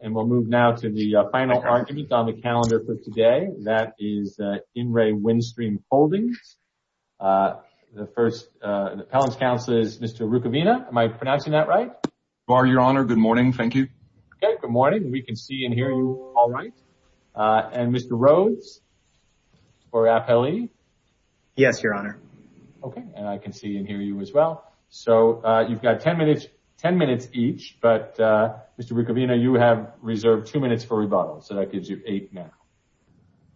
And we'll move now to the final argument on the calendar for today. That is In Re. Windstream Holdings. The first appellant's counsel is Mr. Rukavina. Am I pronouncing that right? So are you, Your Honor. Good morning. Thank you. Okay, good morning. We can see and hear you all right. And Mr. Rhodes for appellee? Yes, Your Honor. Okay, and I can see and hear you as well. So you've got 10 minutes each, but Mr. Rukavina, you have reserved two minutes for rebuttal. So that gives you eight now.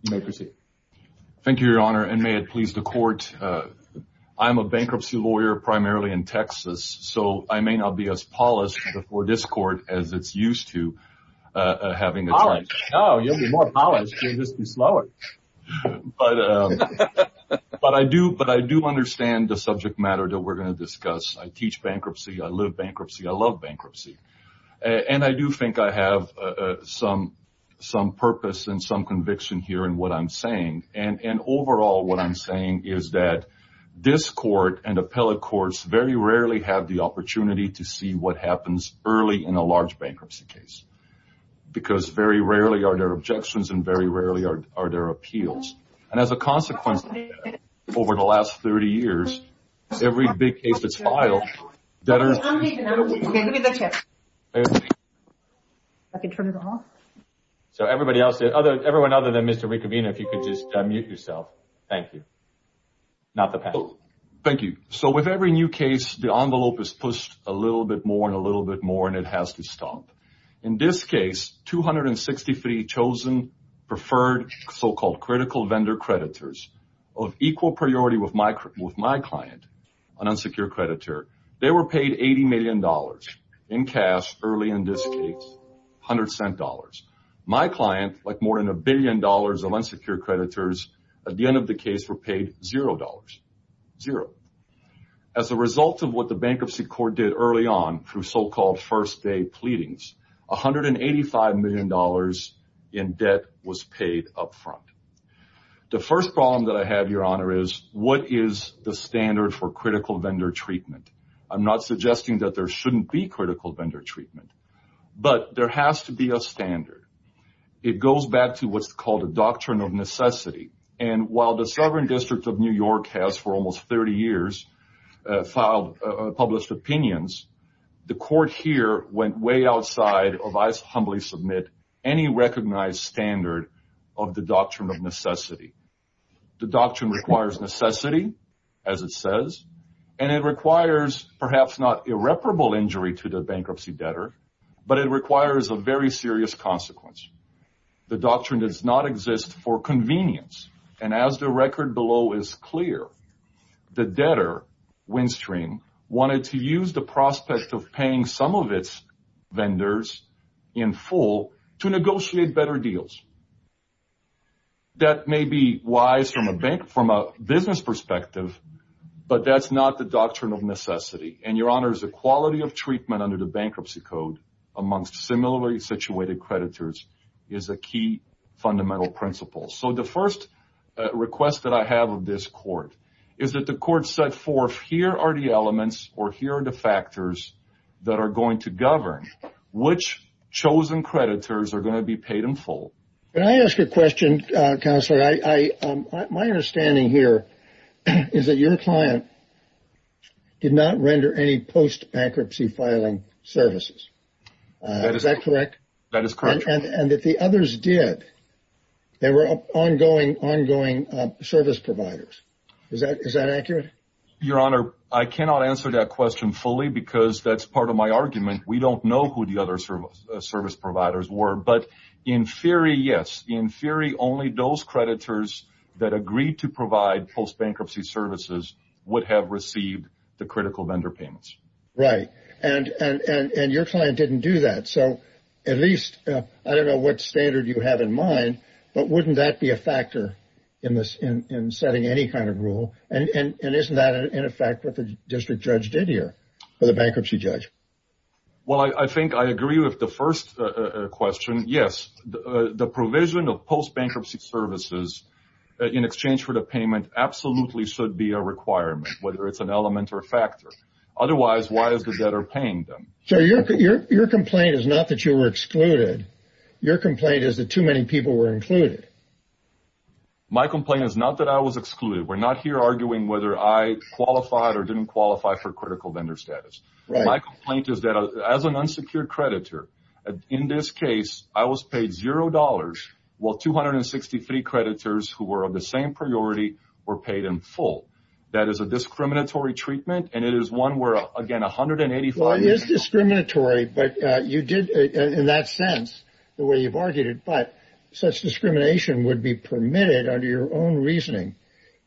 You may proceed. Thank you, Your Honor, and may it please the court. I'm a bankruptcy lawyer primarily in Texas, so I may not be as polished before this court as it's used to having a... Polished? No, you'll be more polished. You'll just be slower. But I do understand the subject matter that we're going to discuss. I teach bankruptcy. I live bankruptcy. I love bankruptcy. And I do think I have some purpose and some conviction here in what I'm saying. And overall, what I'm saying is that this court and appellate courts very rarely have the opportunity to see what happens early in a large bankruptcy case. Because very rarely are there objections and very rarely are there appeals. And as a consequence, over the last 30 years, every big case that's filed... So everybody else, everyone other than Mr. Rukavina, if you could just unmute yourself. Thank you. Not the panel. Thank you. So with every new case, the envelope is pushed a little bit more and a little bit more, and it has to stop. In this case, 263 chosen preferred so-called critical vendor creditors of equal priority with my client, an unsecured creditor, they were paid $80 million in cash early in this case, $100. My client, like more than a billion dollars of unsecured creditors, at the end of the case were paid $0. Zero. As a result of what the Bankruptcy Court did early on through so-called first day pleadings, $185 million in debt was paid up front. The first problem that I have, Your Honor, is what is the standard for critical vendor treatment? I'm not suggesting that there shouldn't be critical vendor treatment, but there has to be a standard. It goes back to what's called a doctrine of necessity. And while the Sovereign District of New York has, for almost 30 years, filed published opinions, the court here went way outside of, I humbly submit, any recognized standard of the doctrine of necessity. The doctrine requires necessity, as it says, and it requires perhaps not irreparable injury to the bankruptcy debtor, but it requires a very serious consequence. The doctrine does not exist for convenience. And as the record below is clear, the debtor, Winstring, wanted to use the prospect of paying some of its vendors in full to negotiate better deals. That may be wise from a business perspective, but that's not the doctrine of necessity. And, Your Honor, the quality of treatment under the Bankruptcy Code amongst similarly situated creditors is a key fundamental principle. So the first request that I have of this court is that the court set forth, here are the elements or here are the factors that are going to govern which chosen creditors are going to be paid in full. Can I ask a question, Counselor? My understanding here is that your client did not render any post-bankruptcy filing services. Is that correct? That is correct. And that the others did. They were ongoing service providers. Is that accurate? Your Honor, I cannot answer that question fully because that's part of my argument. We don't know who the other service providers were. But in theory, yes. In theory, only those creditors that agreed to provide post-bankruptcy services would have received the critical vendor payments. Right. And your client didn't do that. So at least, I don't know what standard you have in mind, but wouldn't that be a factor in setting any kind of rule? And isn't that, in effect, what the district judge did here, or the bankruptcy judge? Well, I think I agree with the first question. Yes, the provision of post-bankruptcy services in exchange for the payment absolutely should be a requirement, whether it's an element or a factor. Otherwise, why is the debtor paying them? So your complaint is not that you were excluded. Your complaint is that too many people were included. My complaint is not that I was excluded. We're not here arguing whether I qualified or didn't qualify for critical vendor status. Right. My complaint is that as an unsecured creditor, in this case, I was paid zero dollars, while 263 creditors who were of the same priority were paid in full. That is a discriminatory treatment. And it is one where, again, 185- It is discriminatory, in that sense, the way you've argued it. But such discrimination would be permitted, under your own reasoning,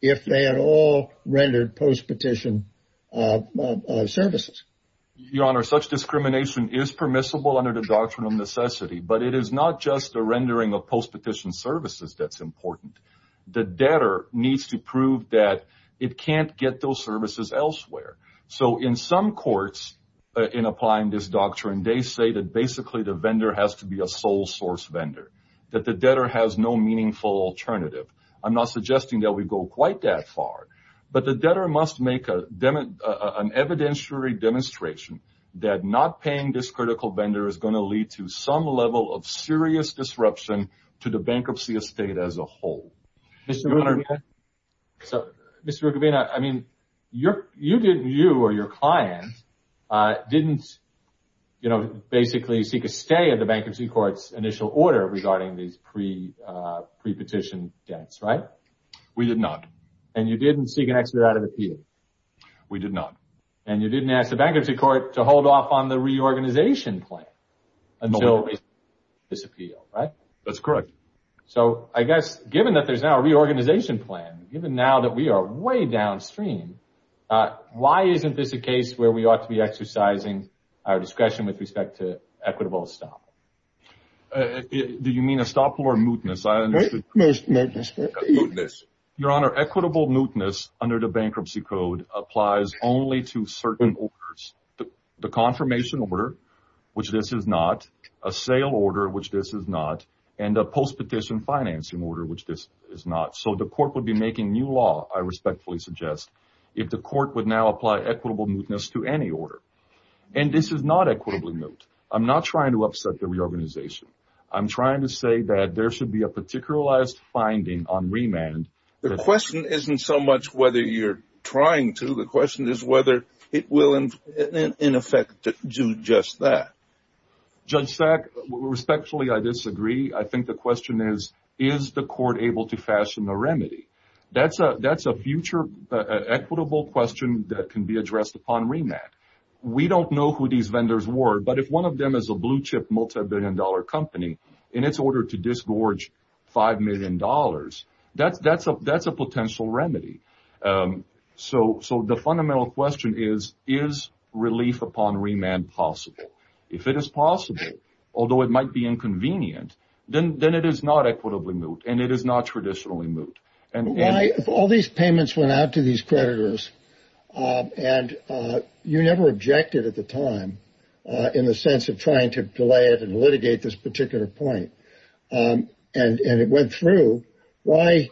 if they had all rendered post-petition services. Your Honor, such discrimination is permissible under the Doctrine of Necessity. But it is not just the rendering of post-petition services that's important. The debtor needs to prove that it can't get those services elsewhere. So in some courts, in applying this doctrine, they say that basically the vendor has to be a sole source vendor. That the debtor has no meaningful alternative. I'm not suggesting that we go quite that far. But the debtor must make an evidentiary demonstration that not paying this critical vendor is going to lead to some level of serious disruption to the bankruptcy estate as a whole. Mr. Rukavina, I mean, you or your client didn't, you know, basically seek a stay at the bankruptcy court's initial order regarding these pre-petition debts, right? We did not. And you didn't seek an exit out of appeal? We did not. And you didn't ask the bankruptcy court to hold off on the reorganization plan until it was appealed, right? That's correct. So I guess given that there's now a reorganization plan, given now that we are way downstream, why isn't this a case where we ought to be exercising our discretion with respect to equitable estoppel? Do you mean estoppel or mootness? Mootness. Your Honor, equitable mootness under the bankruptcy code applies only to certain orders. The confirmation order, which this is not. A sale order, which this is not. And a post-petition financing order, which this is not. So the court would be making new law, I respectfully suggest, if the court would now apply equitable mootness to any order. And this is not equitably moot. I'm not trying to upset the reorganization. I'm trying to say that there should be a particularized finding on remand. The question isn't so much whether you're trying to. The question is whether it will, in effect, do just that. Judge Sack, respectfully, I disagree. I think the question is, is the court able to fashion a remedy? That's a future equitable question that can be addressed upon remand. We don't know who these vendors were. But if one of them is a blue chip, multi-billion dollar company, in its order to disgorge $5 million, that's a potential remedy. So the fundamental question is, is relief upon remand possible? If it is possible, although it might be inconvenient, then it is not equitably moot, and it is not traditionally moot. And why, if all these payments went out to these creditors, and you never objected at the time, in the sense of trying to delay it and litigate this particular point, and it went through, why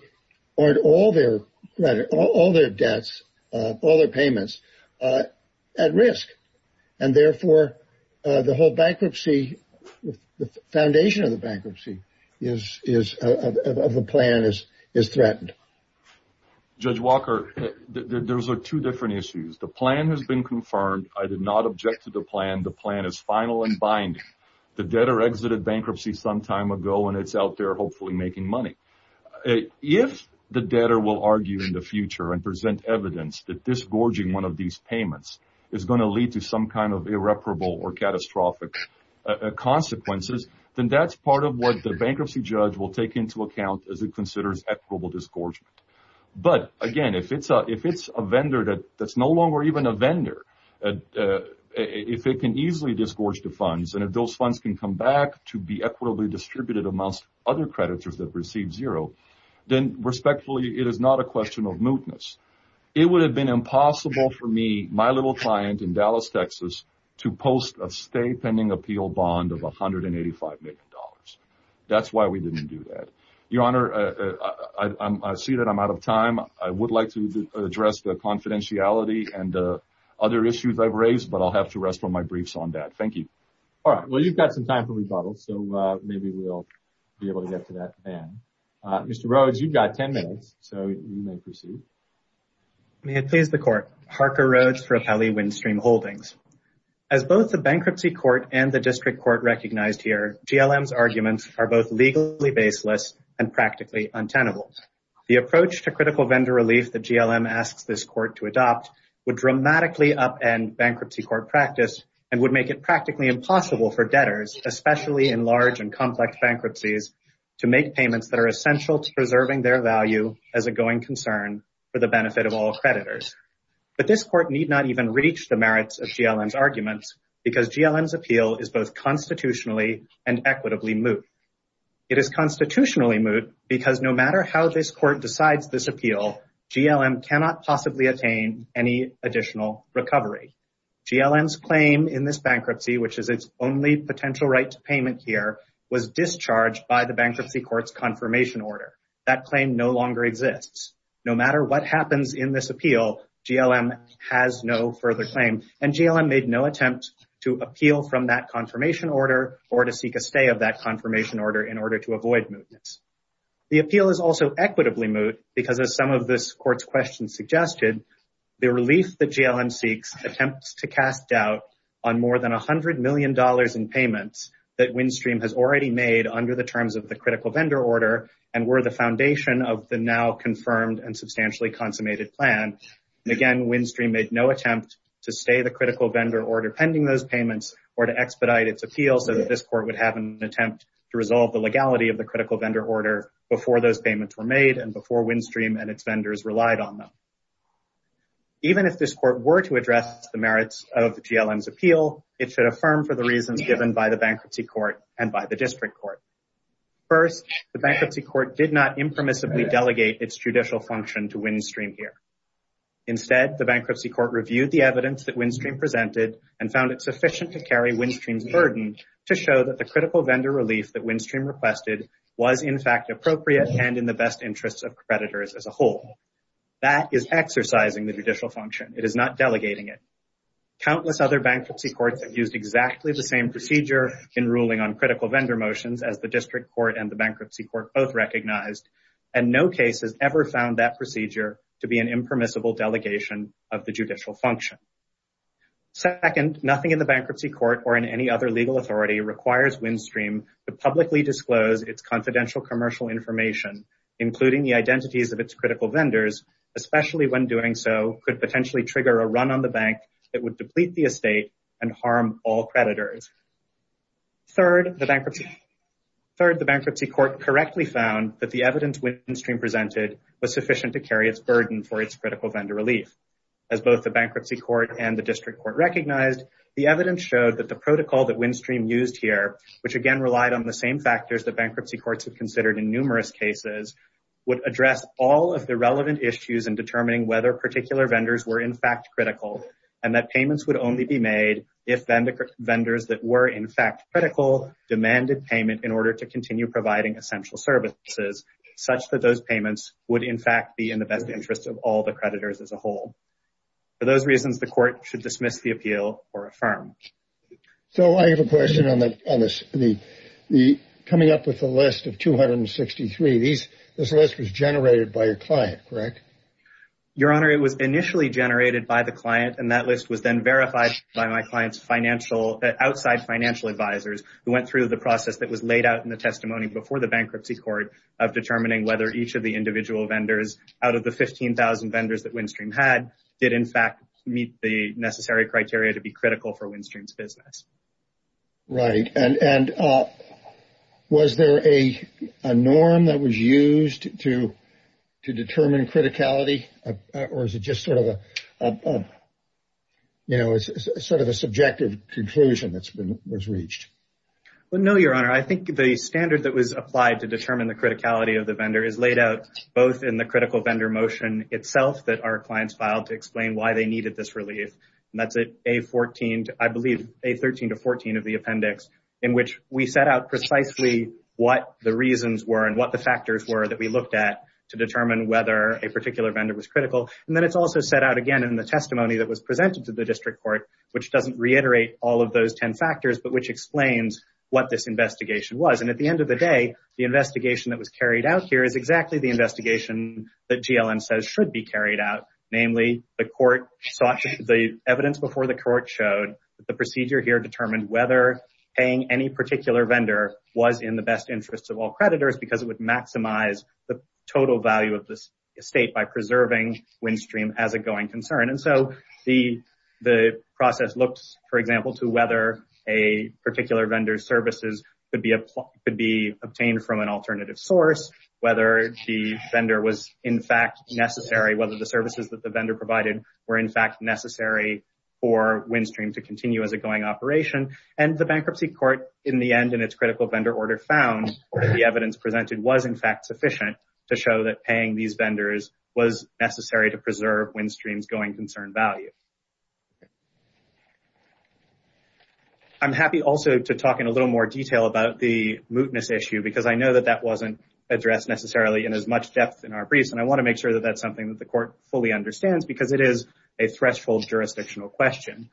aren't all their debts, all their payments, at risk? And therefore, the whole bankruptcy, the foundation of the bankruptcy of the plan is threatened. Judge Walker, there's two different issues. The plan has been confirmed. I did not object to the plan. The plan is final and binding. The debtor exited bankruptcy some time ago, and it's out there, hopefully, making money. If the debtor will argue in the future and present evidence that this gorging one of these payments is going to lead to some kind of irreparable or catastrophic consequences, then that's part of what the bankruptcy judge will take into account as it considers equitable disgorgement. But again, if it's a vendor that's no longer even a vendor, if it can easily disgorge the funds, and if those funds can come back to be equitably distributed amongst other creditors that receive zero, then respectfully, it is not a question of mootness. It would have been impossible for me, my little client in Dallas, Texas, to post a stay pending appeal bond of $185 million. That's why we didn't do that. Your Honor, I see that I'm out of time. I would like to address the confidentiality and other issues I've raised, but I'll have to rest on my briefs on that. Thank you. All right. Well, you've got some time for rebuttal, so maybe we'll be able to get to that then. Mr. Rhodes, you've got 10 minutes, so you may proceed. May it please the Court. Harker Rhodes for Apelli Windstream Holdings. As both the Bankruptcy Court and the District Court recognized here, GLM's arguments are both legally baseless and practically untenable. The approach to critical vendor relief that GLM asks this Court to adopt would dramatically upend bankruptcy court practice and would make it practically impossible for debtors, especially in large and complex bankruptcies, to make payments that are essential to preserving their value as a going concern for the benefit of all creditors. But this Court need not even reach the merits of GLM's arguments because GLM's appeal is both constitutionally and equitably moot. It is constitutionally moot because no matter how this Court decides this appeal, GLM cannot possibly attain any additional recovery. GLM's claim in this bankruptcy, which is its only potential right to payment here, was discharged by the Bankruptcy Court's confirmation order. That claim no longer exists. No matter what happens in this appeal, GLM has no further claim, and GLM made no attempt to appeal from that confirmation order or to seek a stay of that confirmation order in order to avoid mootness. The appeal is also equitably moot because, as some of this Court's questions suggested, the relief that GLM seeks attempts to cast doubt on more than $100 million in payments that Windstream has already made under the terms of the critical vendor order and were the foundation of the now confirmed and substantially consummated plan. Again, Windstream made no attempt to stay the critical vendor order pending those payments or to expedite its appeal so that this Court would have an attempt to resolve the legality of the critical vendor order before those payments were made and before Windstream and its vendors relied on them. Even if this Court were to address the merits of GLM's appeal, it should affirm for the reasons given by the Bankruptcy Court and by the District Court. First, the Bankruptcy Court did not impermissibly delegate its judicial function to Windstream here. Instead, the Bankruptcy Court reviewed the evidence that Windstream presented and found it sufficient to carry Windstream's burden to show that the critical vendor relief that Windstream requested was, in fact, appropriate and in the best interests of creditors as a whole. That is exercising the judicial function. It is not delegating it. Countless other Bankruptcy Courts have used exactly the same procedure in ruling on critical vendor motions, as the District Court and the Bankruptcy Court both recognized, and no case has ever found that procedure to be an impermissible delegation of the judicial function. Second, nothing in the Bankruptcy Court or in any other legal authority requires Windstream to publicly disclose its confidential commercial information, including the identities of its critical vendors, especially when doing so could potentially trigger a run on the Bank that would deplete the estate and harm all creditors. Third, the Bankruptcy Court correctly found that the evidence Windstream presented was sufficient to carry its burden for its critical vendor relief. As both the Bankruptcy Court and the District Court recognized, the evidence showed that the protocol that Windstream used here, which again relied on the same factors that Bankruptcy Courts have considered in numerous cases, would address all of the relevant issues in determining whether particular vendors were, in fact, critical, and that payments would only be made if vendors that were, in fact, critical demanded payment in order to continue providing essential services such that those payments would, in fact, be in the best interest of all the creditors as a whole. For those reasons, the Court should dismiss the appeal or affirm. So I have a question on this. Coming up with the list of 263, this list was generated by a client, correct? Your Honor, it was initially generated by the client, and that list was then verified by my client's financial— outside financial advisers who went through the process that was laid out in the testimony before the Bankruptcy Court of determining whether each of the individual vendors out of the 15,000 vendors that Windstream had did, in fact, meet the necessary criteria to be critical for Windstream's business. Right, and was there a norm that was used to determine criticality, or is it just sort of a, you know, it's sort of a subjective conclusion that was reached? Well, no, Your Honor. I think the standard that was applied to determine the criticality of the vendor is laid out both in the critical vendor motion itself that our clients filed to explain why they needed this relief, and that's at A14, I believe, A13 to 14 of the appendix, in which we set out precisely what the reasons were and what the factors were that we looked at to determine whether a particular vendor was critical. And then it's also set out again in the testimony that was presented to the District Court, which doesn't reiterate all of those 10 factors, but which explains what this investigation was. And at the end of the day, the investigation that was carried out here is exactly the investigation that GLN says should be carried out. Namely, the evidence before the court showed that the procedure here determined whether paying any particular vendor was in the best interest of all creditors because it would maximize the total value of this estate by preserving WinStream as a going concern. And so the process looks, for example, to whether a particular vendor's services could be obtained from an alternative source, whether the vendor was in fact necessary, whether the services that the vendor provided were in fact necessary for WinStream to continue as a going operation. And the Bankruptcy Court in the end in its critical vendor order found that the evidence presented was in fact sufficient to show that paying these vendors was necessary to preserve WinStream's going concern value. I'm happy also to talk in a little more detail about the mootness issue because I know that that wasn't addressed necessarily in as much depth in our briefs. And I want to make sure that that's something that the court fully understands because it is a threshold jurisdictional question.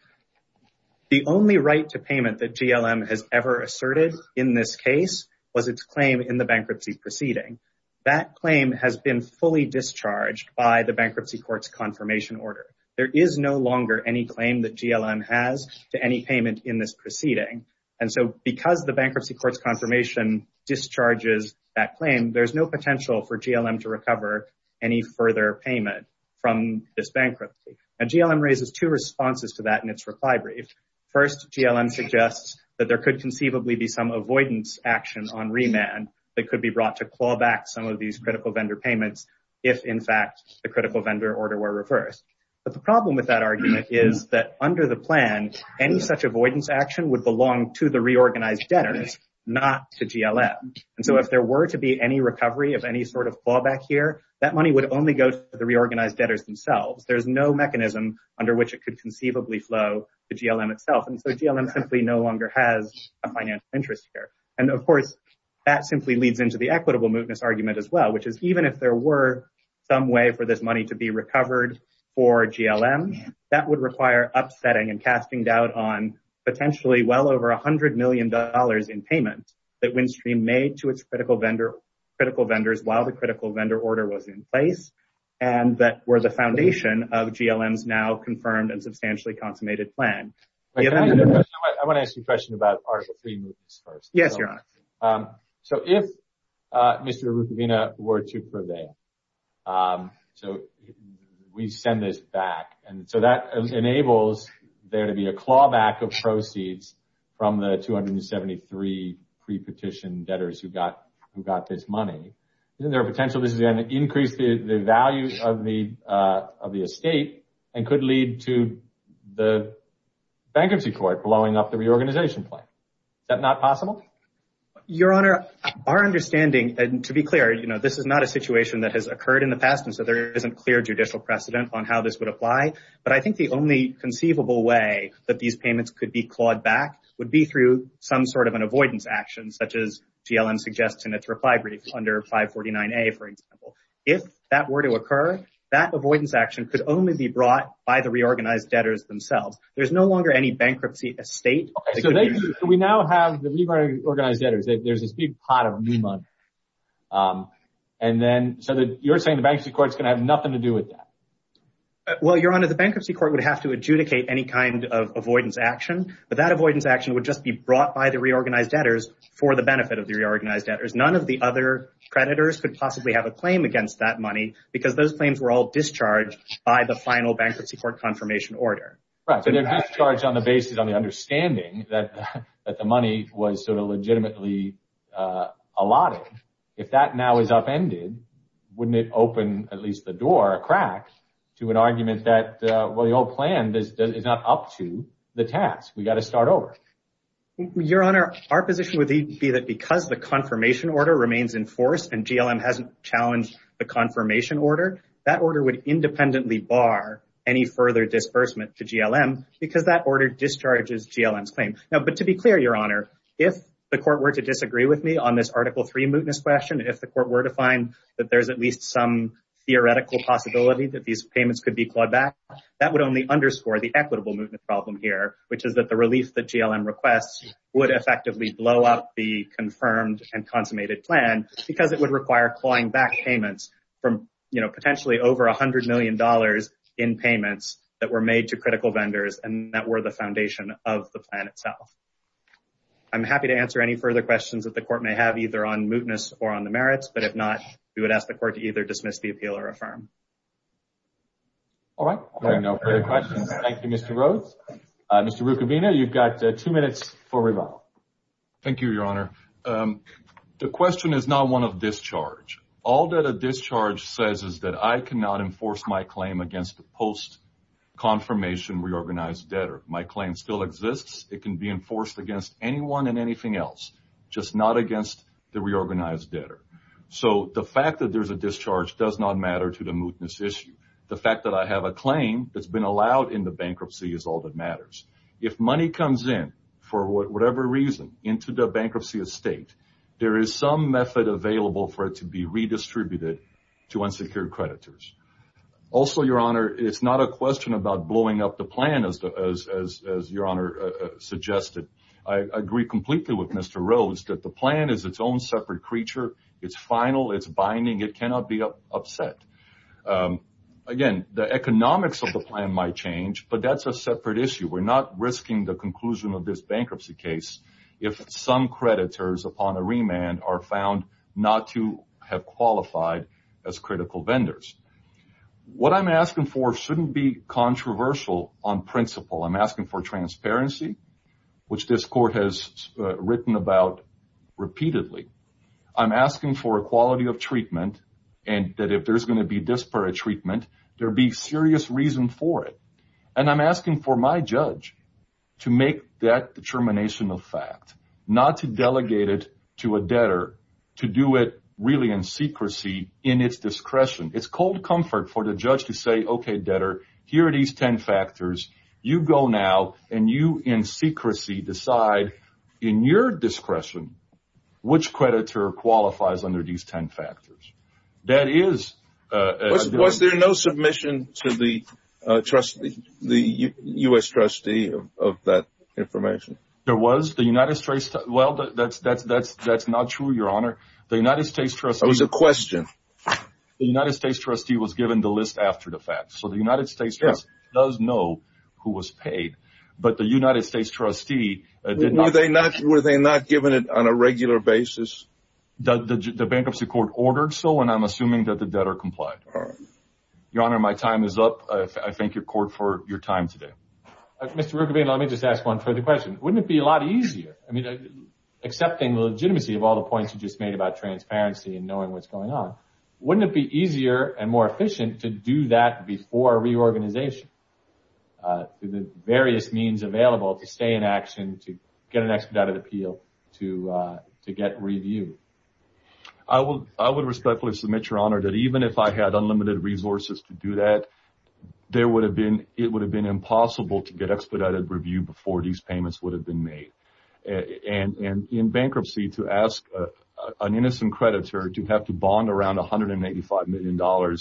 The only right to payment that GLM has ever asserted in this case was its claim in the bankruptcy proceeding. That claim has been fully discharged by the Bankruptcy Court's confirmation order. There is no longer any claim that GLM has to any payment in this proceeding. And so because the Bankruptcy Court's confirmation discharges that claim, there's no potential for GLM to recover any further payment from this bankruptcy. And GLM raises two responses to that in its reply brief. First, GLM suggests that there could conceivably be some avoidance action on remand that could be brought to claw back some of these critical vendor payments if in fact the critical vendor order were reversed. But the problem with that argument is that under the plan, any such avoidance action would belong to the reorganized debtors, not to GLM. And so if there were to be any recovery of any sort of clawback here, that money would only go to the reorganized debtors themselves. There's no mechanism under which it could conceivably flow to GLM itself. And so GLM simply no longer has a financial interest here. And of course, that simply leads into the equitable mootness argument as well, which is even if there were some way for this money to be recovered for GLM, that would require upsetting and casting doubt on potentially well over $100 million in payment that WinStream made to its critical vendors while the critical vendor order was in place and that were the foundation of GLM's now confirmed and substantially consummated plan. I want to ask you a question about Article III mootness first. Yes, Your Honor. So if Mr. Arrufovina were to prevail, so we send this back, and so that enables there to be a clawback of proceeds from the 273 pre-petition debtors who got this money, isn't there a potential this is going to increase the value of the estate and could lead to the bankruptcy court blowing up the reorganization plan? Is that not possible? Your Honor, our understanding, and to be clear, this is not a situation that has occurred in the past, and so there isn't clear judicial precedent on how this would apply. But I think the only conceivable way that these payments could be clawed back would be through some sort of an avoidance action, such as GLM suggests in its reply brief under 549A, for example. If that were to occur, that avoidance action could only be brought by the reorganized debtors themselves. There's no longer any bankruptcy estate. We now have the reorganized debtors. There's this big pot of new money. And then, so you're saying the bankruptcy court is going to have nothing to do with that? Well, Your Honor, the bankruptcy court would have to adjudicate any kind of avoidance action, but that avoidance action would just be brought by the reorganized debtors for the benefit of the reorganized debtors. None of the other creditors could possibly have a claim against that money because those claims were all discharged by the final bankruptcy court confirmation order. Right, so they're discharged on the basis of the understanding that the money was sort of legitimately allotted. If that now is upended, wouldn't it open at least the door, a crack, to an argument that, well, the old plan is not up to the task. We've got to start over. Your Honor, our position would be that because the confirmation order remains in force and GLM hasn't challenged the confirmation order, that order would independently bar any further disbursement to GLM because that order discharges GLM's claim. Now, but to be clear, Your Honor, if the court were to disagree with me on this Article III mootness question, if the court were to find that there's at least some theoretical possibility that these payments could be clawed back, that would only underscore the equitable mootness problem here, which is that the relief that GLM requests would effectively blow up the confirmed and consummated plan because it would require clawing back payments from potentially over $100 million in payments that were made to critical vendors and that were the foundation of the plan itself. I'm happy to answer any further questions that the court may have, either on mootness or on the merits, but if not, we would ask the court to either dismiss the appeal or affirm. All right, no further questions. Thank you, Mr. Rhodes. Mr. Rucavina, you've got two minutes for rebuttal. Thank you, Your Honor. The question is not one of discharge. All that a discharge says is that I cannot enforce my claim against the post-confirmation reorganized debtor. My claim still exists. It can be enforced against anyone and anything else, just not against the reorganized debtor. So the fact that there's a discharge does not matter to the mootness issue. The fact that I have a claim that's been allowed in the bankruptcy is all that matters. If money comes in for whatever reason into the bankruptcy estate, there is some method available for it to be redistributed to unsecured creditors. Also, Your Honor, it's not a question about blowing up the plan as Your Honor suggested. I agree completely with Mr. Rhodes that the plan is its own separate creature. It's final, it's binding. It cannot be upset. Again, the economics of the plan might change, but that's a separate issue. We're not risking the conclusion of this bankruptcy case if some creditors upon a remand are found not to have qualified as critical vendors. What I'm asking for shouldn't be controversial on principle. I'm asking for transparency, which this court has written about repeatedly. I'm asking for equality of treatment and that if there's going to be disparate treatment, there be serious reason for it. And I'm asking for my judge to make that determination a fact, not to delegate it to a debtor, to do it really in secrecy in its discretion. It's cold comfort for the judge to say, okay, debtor, here are these 10 factors. You go now and you in secrecy decide in your discretion which creditor qualifies under these 10 factors. That is- Was there no submission to the trustee, the U.S. trustee of that information? There was the United States. Well, that's not true, your honor. The United States trustee- That was a question. The United States trustee was given the list after the fact. So the United States does know who was paid, but the United States trustee did not- Were they not given it on a regular basis? The bankruptcy court ordered so, and I'm assuming that the debtor complied. Your honor, my time is up. I thank your court for your time today. Mr. Rugovino, let me just ask one further question. Wouldn't it be a lot easier, I mean, accepting the legitimacy of all the points you just made about transparency and knowing what's going on, wouldn't it be easier and more efficient to do that before reorganization? The various means available to stay in action, to get an expedited appeal, to get review. I would respectfully submit, your honor, that even if I had unlimited resources to do that, it would have been impossible to get expedited review before these payments would have been made. And in bankruptcy, to ask an innocent creditor to have to bond around $185 million,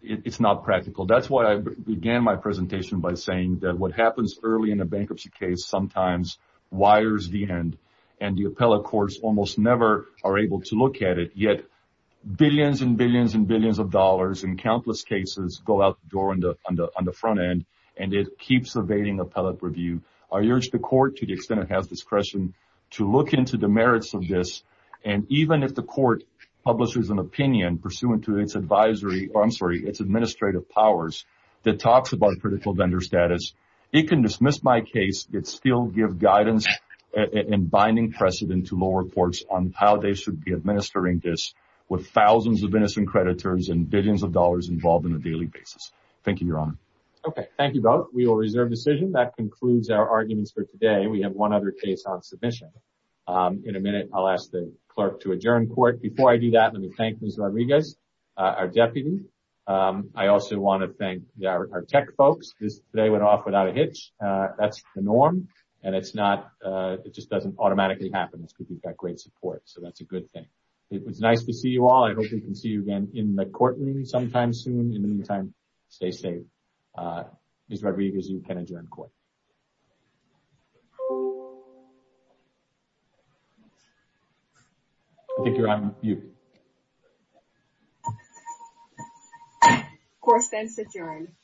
it's not practical. That's why I began my presentation by saying that what happens early in a bankruptcy case sometimes wires the end, and the appellate courts almost never are able to look at it. Yet billions and billions and billions of dollars in countless cases go out the door on the front end, and it keeps evading appellate review. I urge the court, to the extent it has discretion, to look into the merits of this. And even if the court publishes an opinion pursuant to its advisory, or I'm sorry, its administrative powers, that talks about critical vendor status, it can dismiss my case, but still give guidance and binding precedent to lower courts on how they should be administering this with thousands of innocent creditors and billions of dollars involved in a daily basis. Thank you, Your Honor. Okay, thank you both. We will reserve decision. That concludes our arguments for today. We have one other case on submission. In a minute, I'll ask the clerk to adjourn court. Before I do that, let me thank Ms. Rodriguez, our deputy. I also want to thank our tech folks. Today went off without a hitch. That's the norm. And it's not, it just doesn't automatically happen. We've got great support. So that's a good thing. It was nice to see you all. I hope we can see you again in the courtroom sometime soon. In the meantime, stay safe. Ms. Rodriguez, you can adjourn court. I think you're on mute. Of course, thanks adjourn.